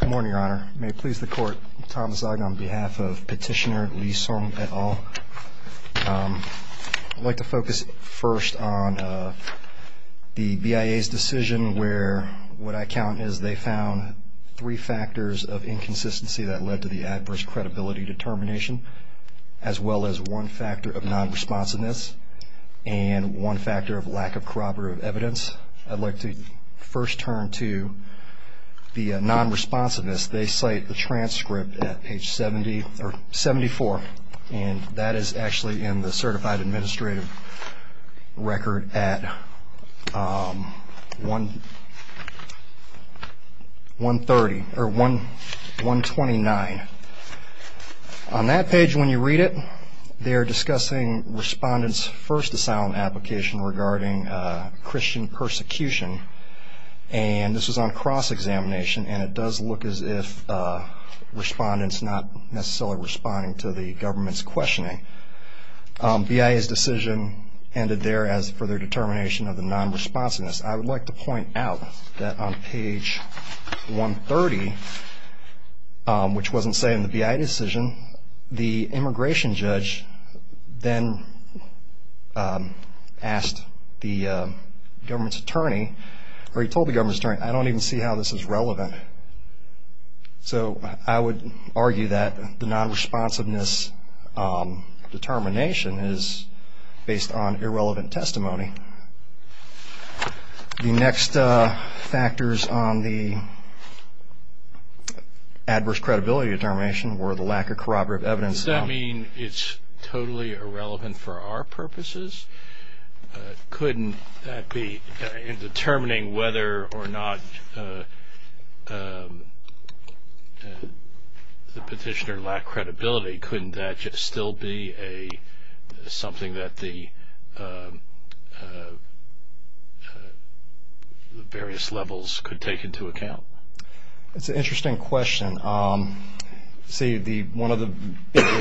Good morning, Your Honor. May it please the Court, I'm Thomas Ogden on behalf of Petitioner Lee Song et al. I'd like to focus first on the BIA's decision where what I count is they found three factors of inconsistency that led to the adverse credibility determination, as well as one factor of non-responsiveness and one factor of lack of corroborative evidence. I'd like to first turn to the non-responsiveness. They cite the transcript at page 74, and that is actually in the certified administrative record at 129. On that page, when you read it, they're discussing respondents' first asylum application regarding Christian persecution, and this was on cross-examination, and it does look as if respondents not necessarily responding to the government's questioning. BIA's decision ended there as for their determination of the non-responsiveness. I would like to point out that on page 130, which wasn't cited in the BIA decision, the immigration judge then asked the government's attorney, or he told the government's attorney, I don't even see how this is relevant. So I would argue that the non-responsiveness determination is based on irrelevant testimony. The next factors on the adverse credibility determination were the lack of corroborative evidence. Does that mean it's totally irrelevant for our purposes? Couldn't that be, in determining whether or not the petitioner lacked credibility, couldn't that just still be something that the various levels could take into account? That's an interesting question. See, one of the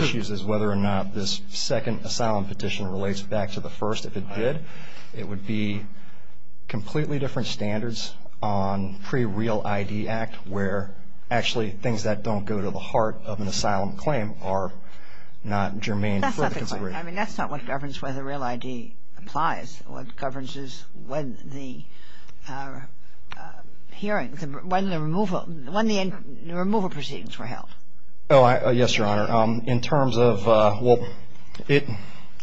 issues is whether or not this second asylum petition relates back to the first. If it did, it would be completely different standards on pre-Real ID Act, where actually things that don't go to the heart of an asylum claim are not germane for the consideration. That's not the claim. I mean, that's not what governs whether Real ID applies. What governs is when the hearing, when the removal, when the removal proceedings were held. Oh, yes, Your Honor. In terms of, well, it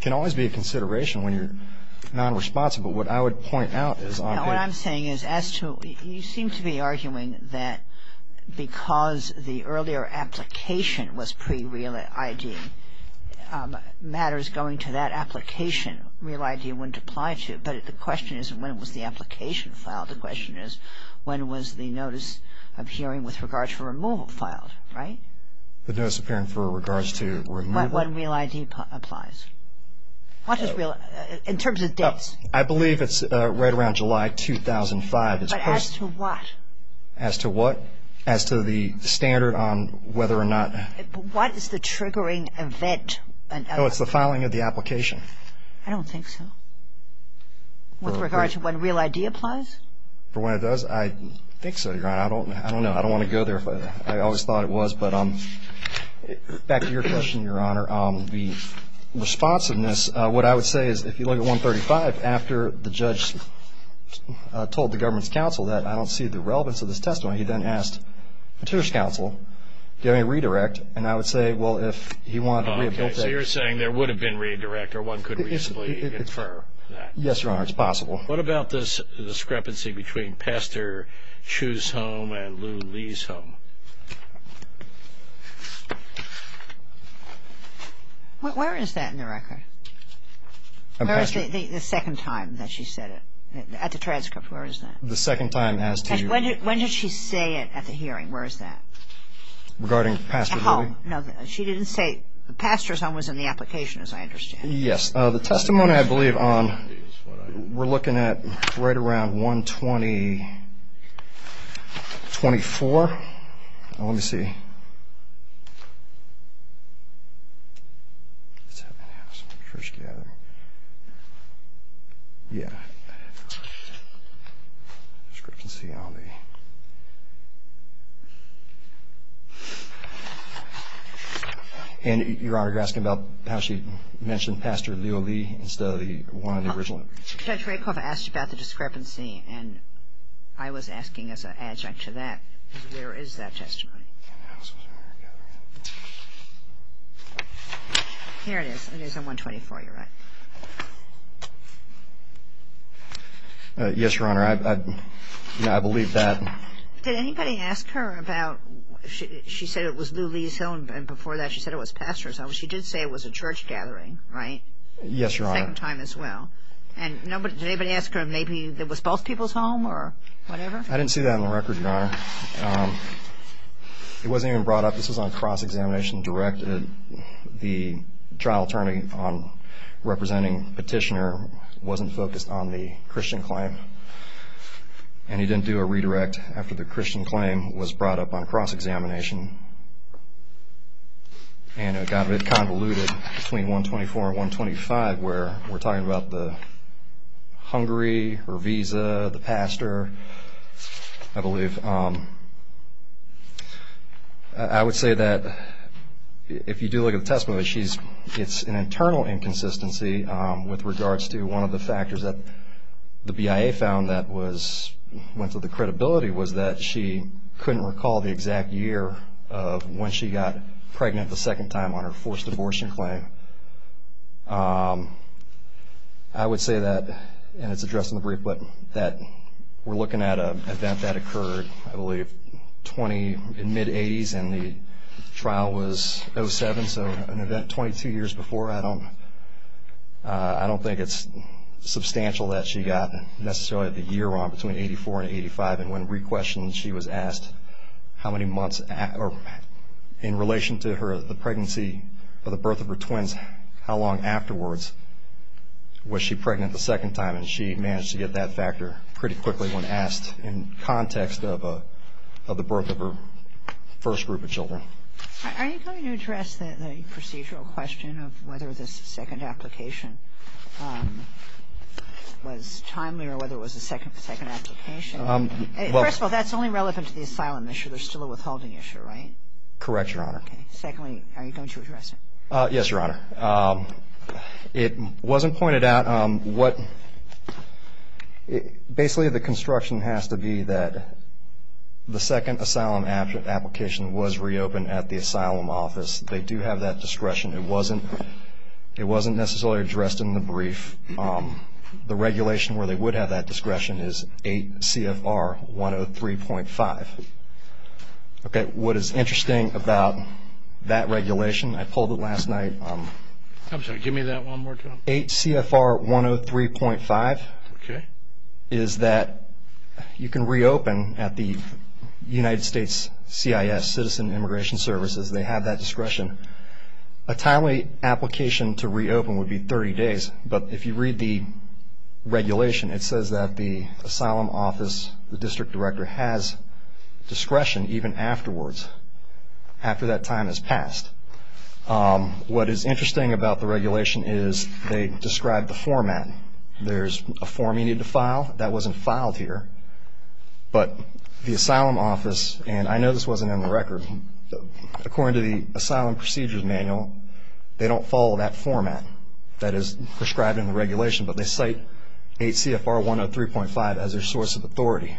can always be a consideration when you're non-responsible. What I would point out is on it. No, what I'm saying is as to, you seem to be arguing that because the earlier application was pre-Real ID, matters going to that application, Real ID wouldn't apply to it. But the question isn't when was the application filed. The question is when was the notice of hearing with regards to removal filed, right? The notice of hearing for regards to removal. When Real ID applies. In terms of dates. I believe it's right around July 2005. But as to what? As to what? As to the standard on whether or not. What is the triggering event? Oh, it's the filing of the application. I don't think so. With regard to when Real ID applies? For when it does? I think so, Your Honor. I don't know. I don't want to go there. I always thought it was. But back to your question, Your Honor. The responsiveness, what I would say is if you look at 135, after the judge told the government's counsel that I don't see the relevance of this testimony, he then asked the judge's counsel, do you have any redirect? And I would say, well, if he wanted to reapplicate. So you're saying there would have been redirect or one could reasonably infer that. Yes, Your Honor, it's possible. What about this discrepancy between Pastor Chu's home and Lou Lee's home? Where is that in the record? Where is the second time that she said it? At the transcript, where is that? The second time has to. When did she say it at the hearing? Where is that? Regarding Pastor's home? No, she didn't say Pastor's home was in the application, as I understand. Yes. The testimony, I believe, we're looking at right around 124. Let me see. First gathering. Yeah. Discrepancy on the. And, Your Honor, you're asking about how she mentioned Pastor Lou Lee instead of the one in the original. Judge Rakoff asked about the discrepancy, and I was asking as an adjunct to that. There is that testimony. Here it is. It is on 124. You're right. Yes, Your Honor, I believe that. Did anybody ask her about, she said it was Lou Lee's home, and before that she said it was Pastor's home. She did say it was a church gathering, right? Yes, Your Honor. Second time as well. And did anybody ask her if maybe it was both people's home or whatever? I didn't see that on the record, Your Honor. It wasn't even brought up. This was on cross-examination direct. The trial attorney representing Petitioner wasn't focused on the Christian claim, and he didn't do a redirect after the Christian claim was brought up on cross-examination. And it got a bit convoluted between 124 and 125 where we're talking about the Hungary, her visa, the pastor, I believe. I would say that if you do look at the testimony, it's an internal inconsistency with regards to one of the factors that the BIA found that went to the credibility was that she couldn't recall the exact year of when she got pregnant the second time on her forced abortion claim. I would say that, and it's addressed in the brief, that we're looking at an event that occurred, I believe, in mid-'80s, and the trial was in 2007, so an event 22 years before. I don't think it's substantial that she got necessarily the year wrong between 84 and 85, and when re-questioned she was asked how many months in relation to the pregnancy or the birth of her twins, how long afterwards was she pregnant the second time, and she managed to get that factor pretty quickly when asked in context of the birth of her first group of children. Are you going to address the procedural question of whether this second application was timely or whether it was a second application? First of all, that's only relevant to the asylum issue. There's still a withholding issue, right? Correct, Your Honor. Secondly, are you going to address it? Yes, Your Honor. It wasn't pointed out. Basically, the construction has to be that the second asylum application was reopened at the asylum office. They do have that discretion. It wasn't necessarily addressed in the brief. The regulation where they would have that discretion is 8 CFR 103.5. Okay, what is interesting about that regulation, I pulled it last night. I'm sorry, give me that one more time. 8 CFR 103.5 is that you can reopen at the United States CIS, Citizen Immigration Services. They have that discretion. A timely application to reopen would be 30 days, but if you read the regulation, it says that the asylum office, the district director, has discretion even afterwards, after that time has passed. What is interesting about the regulation is they describe the format. There's a form you need to file. That wasn't filed here, but the asylum office, and I know this wasn't in the record, according to the Asylum Procedures Manual, they don't follow that format that is prescribed in the regulation, but they cite 8 CFR 103.5 as their source of authority.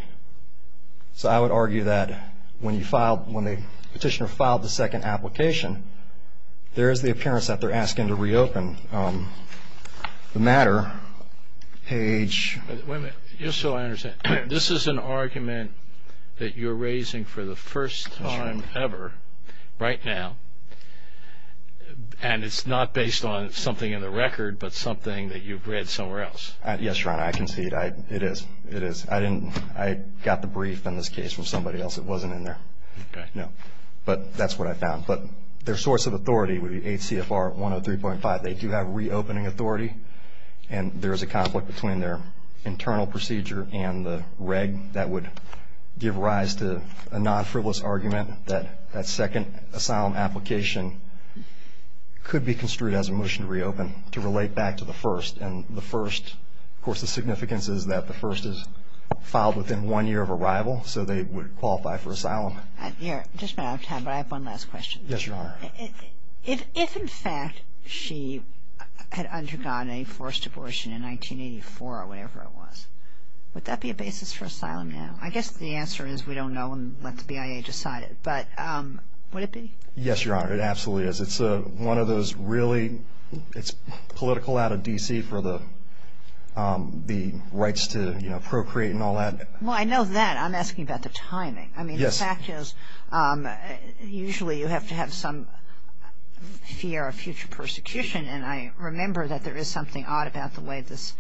So I would argue that when the petitioner filed the second application, there is the appearance that they're asking to reopen. The matter, page. Just so I understand, this is an argument that you're raising for the first time ever, right now, and it's not based on something in the record, but something that you've read somewhere else. Yes, Your Honor, I concede. It is. It is. I got the brief in this case from somebody else. It wasn't in there. Okay. No. But that's what I found. But their source of authority would be 8 CFR 103.5. They do have reopening authority, and there is a conflict between their internal procedure and the reg that would give rise to a non-frivolous argument that that second asylum application could be construed as a motion to reopen, to relate back to the first. And the first, of course, the significance is that the first is filed within one year of arrival, so they would qualify for asylum. I'm just running out of time, but I have one last question. Yes, Your Honor. If, in fact, she had undergone a forced abortion in 1984 or whatever it was, would that be a basis for asylum now? I guess the answer is we don't know and let the BIA decide it. But would it be? Yes, Your Honor, it absolutely is. It's one of those really, it's political out of D.C. for the rights to procreate and all that. Well, I know that. I'm asking about the timing. Yes. The fact is usually you have to have some fear of future persecution, and I remember that there is something odd about the way this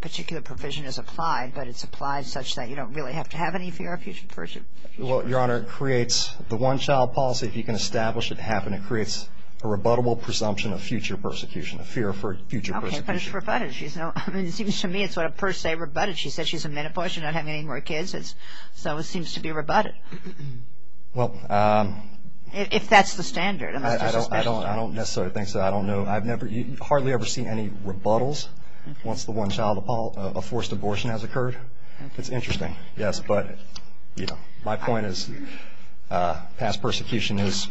particular provision is applied, but it's applied such that you don't really have to have any fear of future persecution. Well, Your Honor, it creates the one-child policy. If you can establish it, it creates a rebuttable presumption of future persecution, a fear for future persecution. Okay, but it's rebutted. I mean, it seems to me it's sort of per se rebutted. She said she's in menopause. She's not having any more kids. So it seems to be rebutted, if that's the standard. I don't necessarily think so. I don't know. I've hardly ever seen any rebuttals once the one-child policy of forced abortion has occurred. It's interesting, yes, but my point is past persecution is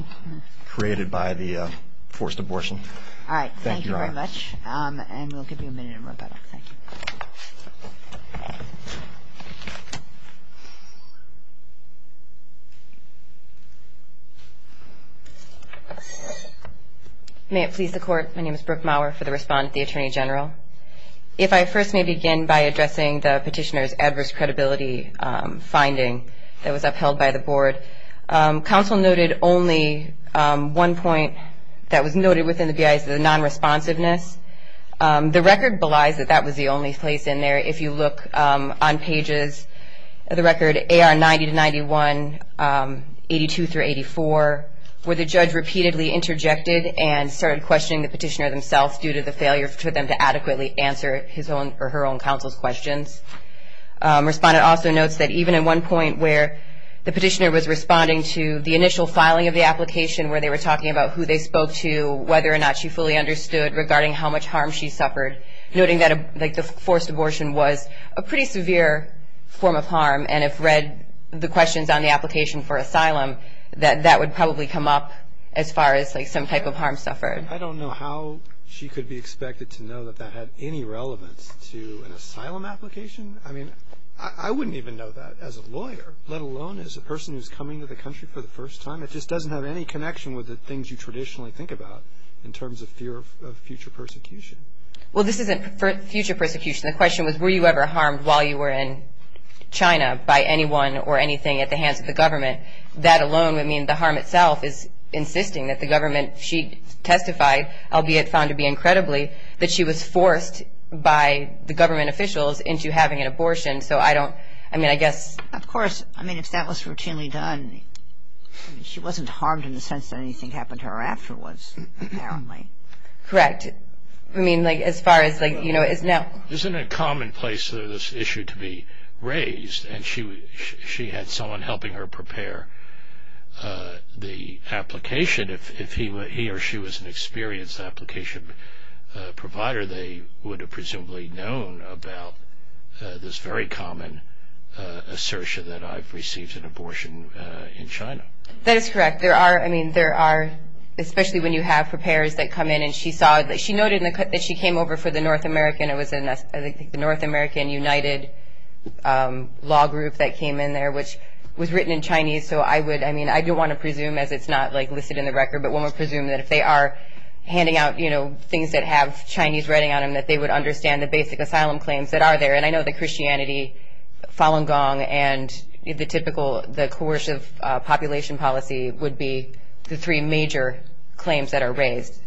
created by the forced abortion. All right, thank you very much. Thank you, Your Honor. And we'll give you a minute in rebuttal. Thank you. May it please the Court, my name is Brooke Maurer for the respondent, the Attorney General. If I first may begin by addressing the petitioner's adverse credibility finding that was upheld by the Board. Counsel noted only one point that was noted within the BIAs, the non-responsiveness. The record belies that that was the only place in there. If you look on pages of the record, AR 90 to 91, 82 through 84, where the judge repeatedly interjected and started questioning the petitioner themselves due to the failure for them to adequately answer his own or her own counsel's questions. Respondent also notes that even at one point where the petitioner was responding to the initial filing of the application, where they were talking about who they spoke to, whether or not she fully understood, but regarding how much harm she suffered, noting that the forced abortion was a pretty severe form of harm, and if read the questions on the application for asylum, that that would probably come up as far as some type of harm suffered. I don't know how she could be expected to know that that had any relevance to an asylum application. I mean, I wouldn't even know that as a lawyer, let alone as a person who's coming to the country for the first time. It just doesn't have any connection with the things you traditionally think about in terms of fear of future persecution. Well, this isn't future persecution. The question was were you ever harmed while you were in China by anyone or anything at the hands of the government? That alone would mean the harm itself is insisting that the government she testified, albeit found to be incredibly, that she was forced by the government officials into having an abortion. Of course, if that was routinely done, she wasn't harmed in the sense that anything happened to her afterwards, apparently. Correct. Isn't it commonplace for this issue to be raised, and she had someone helping her prepare the application, if he or she was an experienced application provider, they would have presumably known about this very common assertion that I've received an abortion in China. That is correct. There are, I mean, there are, especially when you have preparers that come in, and she saw, she noted that she came over for the North American, it was the North American United Law Group that came in there, which was written in Chinese. So I would, I mean, I do want to presume, as it's not listed in the record, but one would presume that if they are handing out things that have Chinese writing on them, that they would understand the basic asylum claims that are there. And I know that Christianity, Falun Gong, and the typical, the coercive population policy, would be the three major claims that are raised.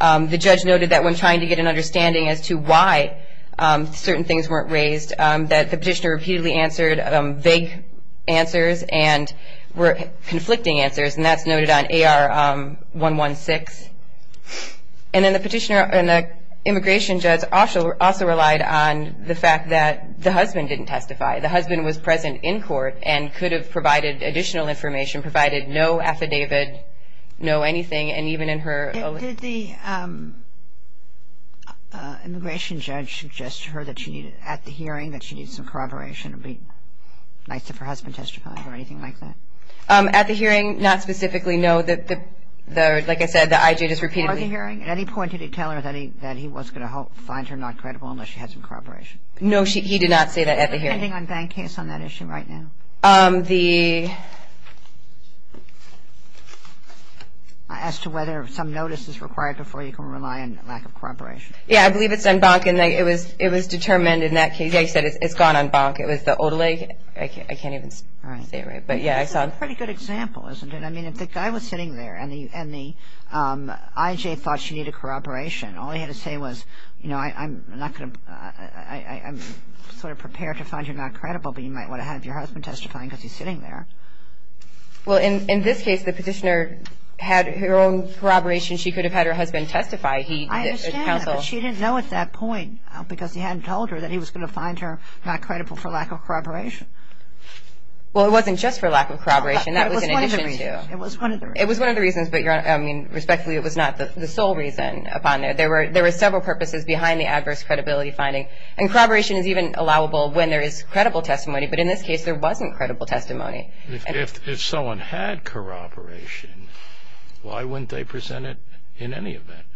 The judge noted that when trying to get an understanding as to why certain things weren't raised, that the petitioner repeatedly answered vague answers and were conflicting answers, and that's noted on AR 116. And then the petitioner and the immigration judge also relied on the fact that the husband didn't testify. The husband was present in court and could have provided additional information, provided no affidavit, no anything. Did the immigration judge suggest to her at the hearing that she needed some corroboration and it would be nice if her husband testified or anything like that? At the hearing, not specifically, no. Like I said, the I.J. just repeatedly. Before the hearing, at any point did he tell her that he was going to find her not credible unless she had some corroboration? No, he did not say that at the hearing. Are you working on a bank case on that issue right now? As to whether some notice is required before you can rely on lack of corroboration. Yeah, I believe it's on bank and it was determined in that case. Yeah, he said it's gone on bank. It was the Old Lake. I can't even say it right, but yeah, I saw it. That's a pretty good example, isn't it? I mean, if the guy was sitting there and the I.J. thought she needed corroboration, all he had to say was, you know, I'm not going to, I'm sort of prepared to find you not credible, but you might want to have your husband testifying because he's sitting there. Well, in this case, the petitioner had her own corroboration. She could have had her husband testify. I understand that, but she didn't know at that point because he hadn't told her that he was going to find her not credible for lack of corroboration. Well, it wasn't just for lack of corroboration. That was in addition to. It was one of the reasons. It was one of the reasons, but respectfully, it was not the sole reason upon there. There were several purposes behind the adverse credibility finding, and corroboration is even allowable when there is credible testimony, but in this case, there wasn't credible testimony. If someone had corroboration, why wouldn't they present it in any event?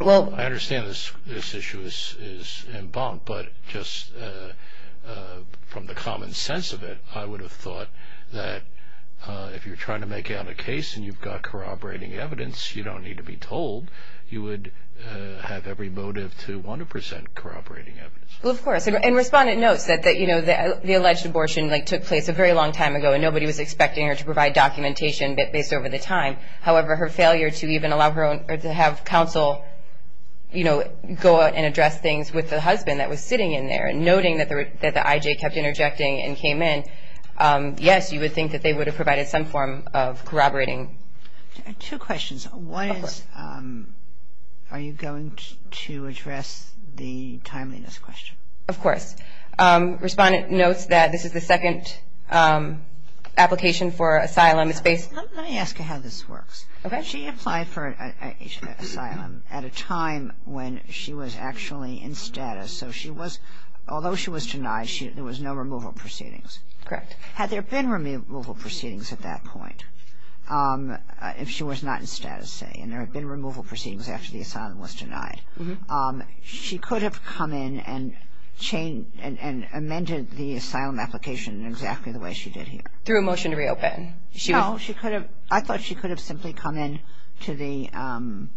Well. I understand this issue is in bond, but just from the common sense of it, I would have thought that if you're trying to make out a case and you've got corroborating evidence, you don't need to be told, you would have every motive to want to present corroborating evidence. Well, of course, and Respondent notes that the alleged abortion took place a very long time ago, and nobody was expecting her to provide documentation based over the time. However, her failure to even allow her own or to have counsel go out and address things with the husband that was sitting in there and noting that the IJ kept interjecting and came in, yes, you would think that they would have provided some form of corroborating. Two questions. One is are you going to address the timeliness question? Of course. Respondent notes that this is the second application for asylum. Let me ask you how this works. Okay. She applied for asylum at a time when she was actually in status, so although she was denied, there was no removal proceedings. Correct. Had there been removal proceedings at that point? If she was not in status, say, and there had been removal proceedings after the asylum was denied, she could have come in and amended the asylum application exactly the way she did here. Through a motion to reopen? No, she could have. I thought she could have simply come in to the, I'm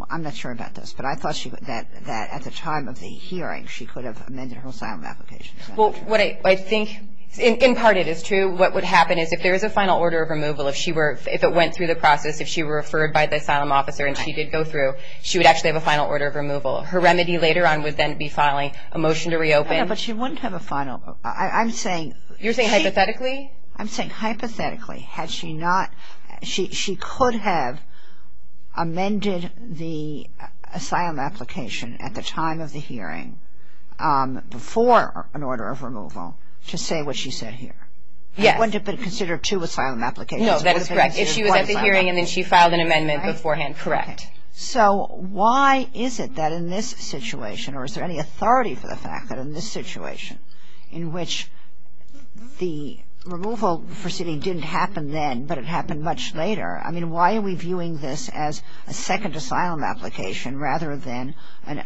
not sure about this, but I thought that at the time of the hearing she could have amended her asylum application. Well, what I think, in part it is true, what would happen is if there is a final order of removal, if it went through the process, if she were referred by the asylum officer and she did go through, she would actually have a final order of removal. Her remedy later on would then be filing a motion to reopen. But she wouldn't have a final. You're saying hypothetically? I'm saying hypothetically. She could have amended the asylum application at the time of the hearing before an order of removal to say what she said here. Yes. It wouldn't have been considered two asylum applications. No, that is correct. If she was at the hearing and then she filed an amendment beforehand, correct. So why is it that in this situation, or is there any authority for the fact that in this situation, in which the removal proceeding didn't happen then but it happened much later, I mean, why are we viewing this as a second asylum application rather than an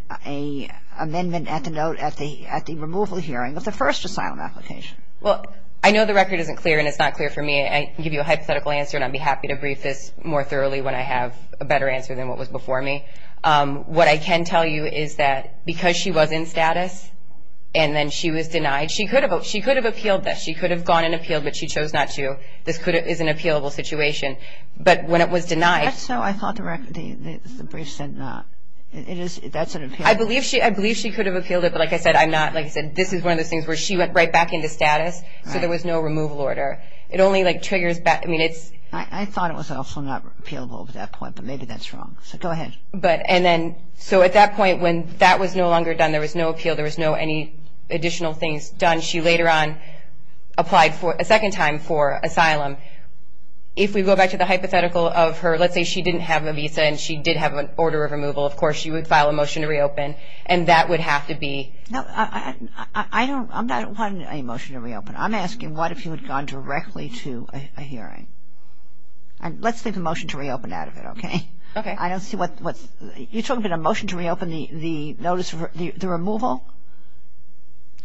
amendment at the note, at the removal hearing of the first asylum application? Well, I know the record isn't clear and it's not clear for me. I can give you a hypothetical answer, and I'd be happy to brief this more thoroughly when I have a better answer than what was before me. What I can tell you is that because she was in status and then she was denied, she could have appealed this. She could have gone and appealed, but she chose not to. This is an appealable situation. Is that so? I thought the brief said not. That's an appealable situation. I believe she could have appealed it, but like I said, I'm not. Like I said, this is one of those things where she went right back into status, so there was no removal order. It only triggers back. I thought it was also not appealable at that point, but maybe that's wrong. So go ahead. So at that point when that was no longer done, there was no appeal, there was no additional things done, she later on applied a second time for asylum. If we go back to the hypothetical of her, let's say she didn't have a visa and she did have an order of removal, of course she would file a motion to reopen, and that would have to be? No, I'm not wanting a motion to reopen. I'm asking what if you had gone directly to a hearing. Let's leave the motion to reopen out of it, okay? Okay. I don't see what's – you're talking about a motion to reopen the notice of the removal?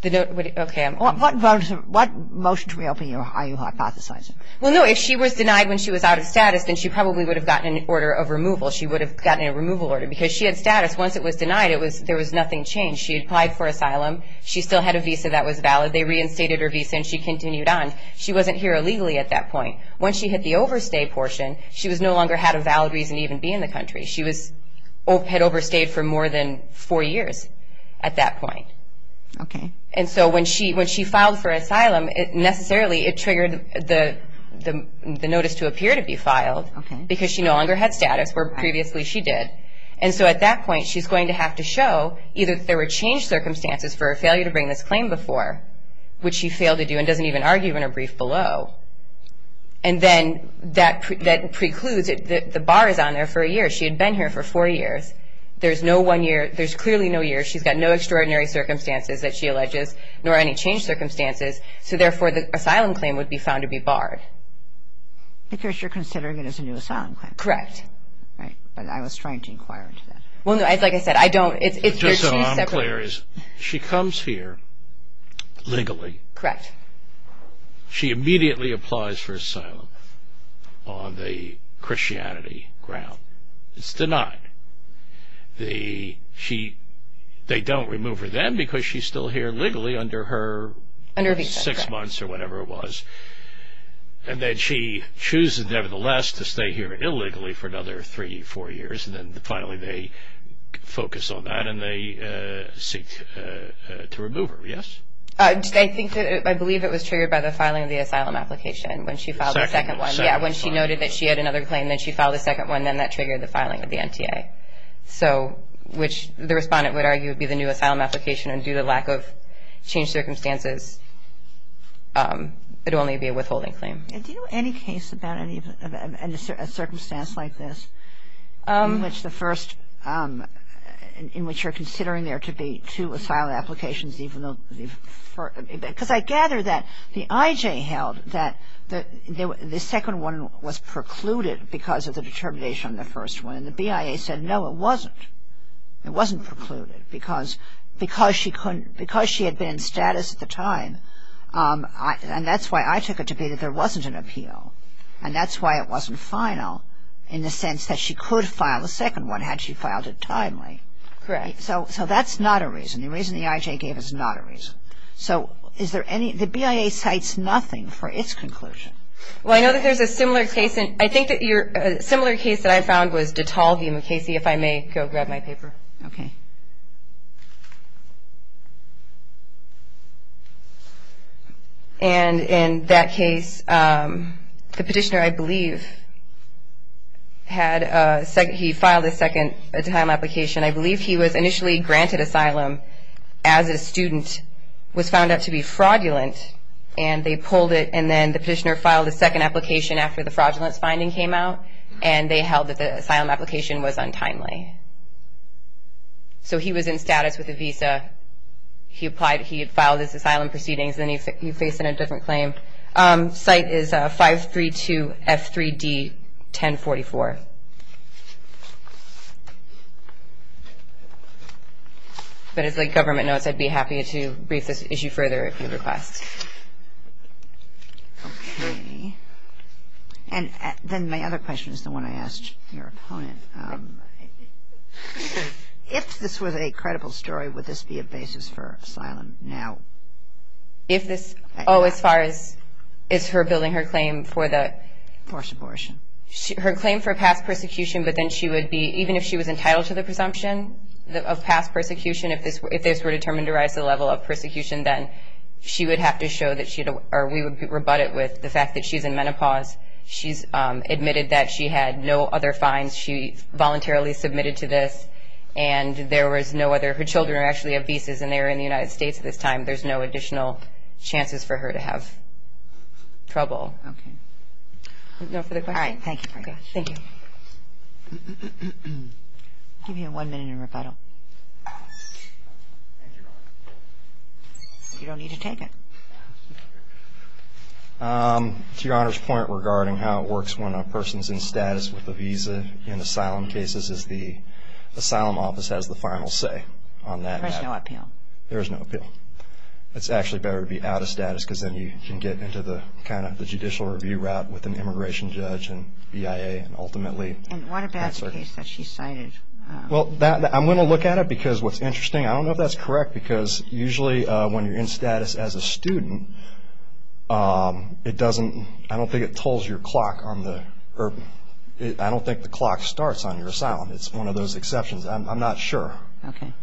Okay. What motion to reopen are you hypothesizing? Well, no, if she was denied when she was out of status, then she probably would have gotten an order of removal. She would have gotten a removal order because she had status. Once it was denied, there was nothing changed. She applied for asylum. She still had a visa that was valid. They reinstated her visa and she continued on. She wasn't here illegally at that point. When she hit the overstay portion, she no longer had a valid reason to even be in the country. She had overstayed for more than four years at that point. Okay. And so when she filed for asylum, necessarily it triggered the notice to appear to be filed because she no longer had status where previously she did. And so at that point, she's going to have to show either there were changed circumstances for her failure to bring this claim before, which she failed to do and doesn't even argue in her brief below. And then that precludes – the bar is on there for a year. She had been here for four years. There's no one year – there's clearly no year. She's got no extraordinary circumstances that she alleges nor any changed circumstances, so therefore the asylum claim would be found to be barred. Because you're considering it as a new asylum claim. Correct. Right, but I was trying to inquire into that. Well, no, like I said, I don't – it's their two separate – Just so I'm clear, she comes here legally. Correct. She immediately applies for asylum on the Christianity ground. It's denied. They don't remove her then because she's still here legally under her six months or whatever it was. And then she chooses, nevertheless, to stay here illegally for another three, four years, and then finally they focus on that and they seek to remove her. Yes? I think that – I believe it was triggered by the filing of the asylum application when she filed the second one. Second one. Yeah, when she noted that she had another claim, then that triggered the filing of the NTA, which the respondent would argue would be the new asylum application, and due to lack of changed circumstances, it would only be a withholding claim. Do you know any case about a circumstance like this in which the first – in which you're considering there to be two asylum applications even though – because I gather that the IJ held that the second one was precluded because of the determination on the first one, and the BIA said, no, it wasn't. It wasn't precluded because she couldn't – because she had been in status at the time, and that's why I took it to be that there wasn't an appeal, and that's why it wasn't final in the sense that she could file the second one had she filed it timely. Correct. So that's not a reason. The reason the IJ gave is not a reason. So is there any – the BIA cites nothing for its conclusion. Well, I know that there's a similar case in – I think that your – a similar case that I found was Dettol v. McCasey. If I may go grab my paper. Okay. And in that case, the petitioner, I believe, had – he filed a second time application. I believe he was initially granted asylum as a student, was found out to be fraudulent, and they pulled it, and then the petitioner filed a second application after the fraudulence finding came out, and they held that the asylum application was untimely. So he was in status with a visa. He applied – he had filed his asylum proceedings, and then he faced a different claim. Cite is 532F3D1044. But as, like, government notes, I'd be happy to brief this issue further if you request. Okay. And then my other question is the one I asked your opponent. If this was a credible story, would this be a basis for asylum now? If this – oh, as far as – is her building her claim for the – For subortion. Her claim for past persecution, but then she would be – even if she was entitled to the presumption of past persecution, if this were determined to rise to the level of persecution, then she would have to show that she – or we would rebut it with the fact that she's in menopause. She's admitted that she had no other fines. She voluntarily submitted to this, and there was no other – her children actually have visas, and they are in the United States at this time. There's no additional chances for her to have trouble. Okay. No further questions? All right. Thank you. Okay. Thank you. I'll give you one minute in rebuttal. You don't need to take it. To Your Honor's point regarding how it works when a person's in status with a visa in asylum cases is the asylum office has the final say on that. There is no appeal. There is no appeal. It's actually better to be out of status because then you can get into the – you're out with an immigration judge and BIA and ultimately – And what about the case that she cited? Well, I'm going to look at it because what's interesting – I don't know if that's correct because usually when you're in status as a student, it doesn't – I don't think it tolls your clock on the – I don't think the clock starts on your asylum. It's one of those exceptions. I'm not sure. Okay.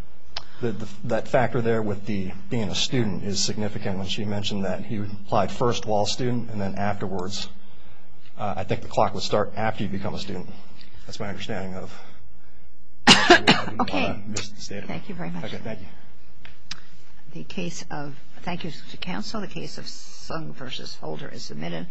That factor there with the – being a student is significant. I understand when she mentioned that he applied first while a student and then afterwards. I think the clock would start after you become a student. That's my understanding of – Okay. Thank you very much. Okay. Thank you. The case of – Thank you, Mr. Counsel. The case of Sung v. Holder is submitted.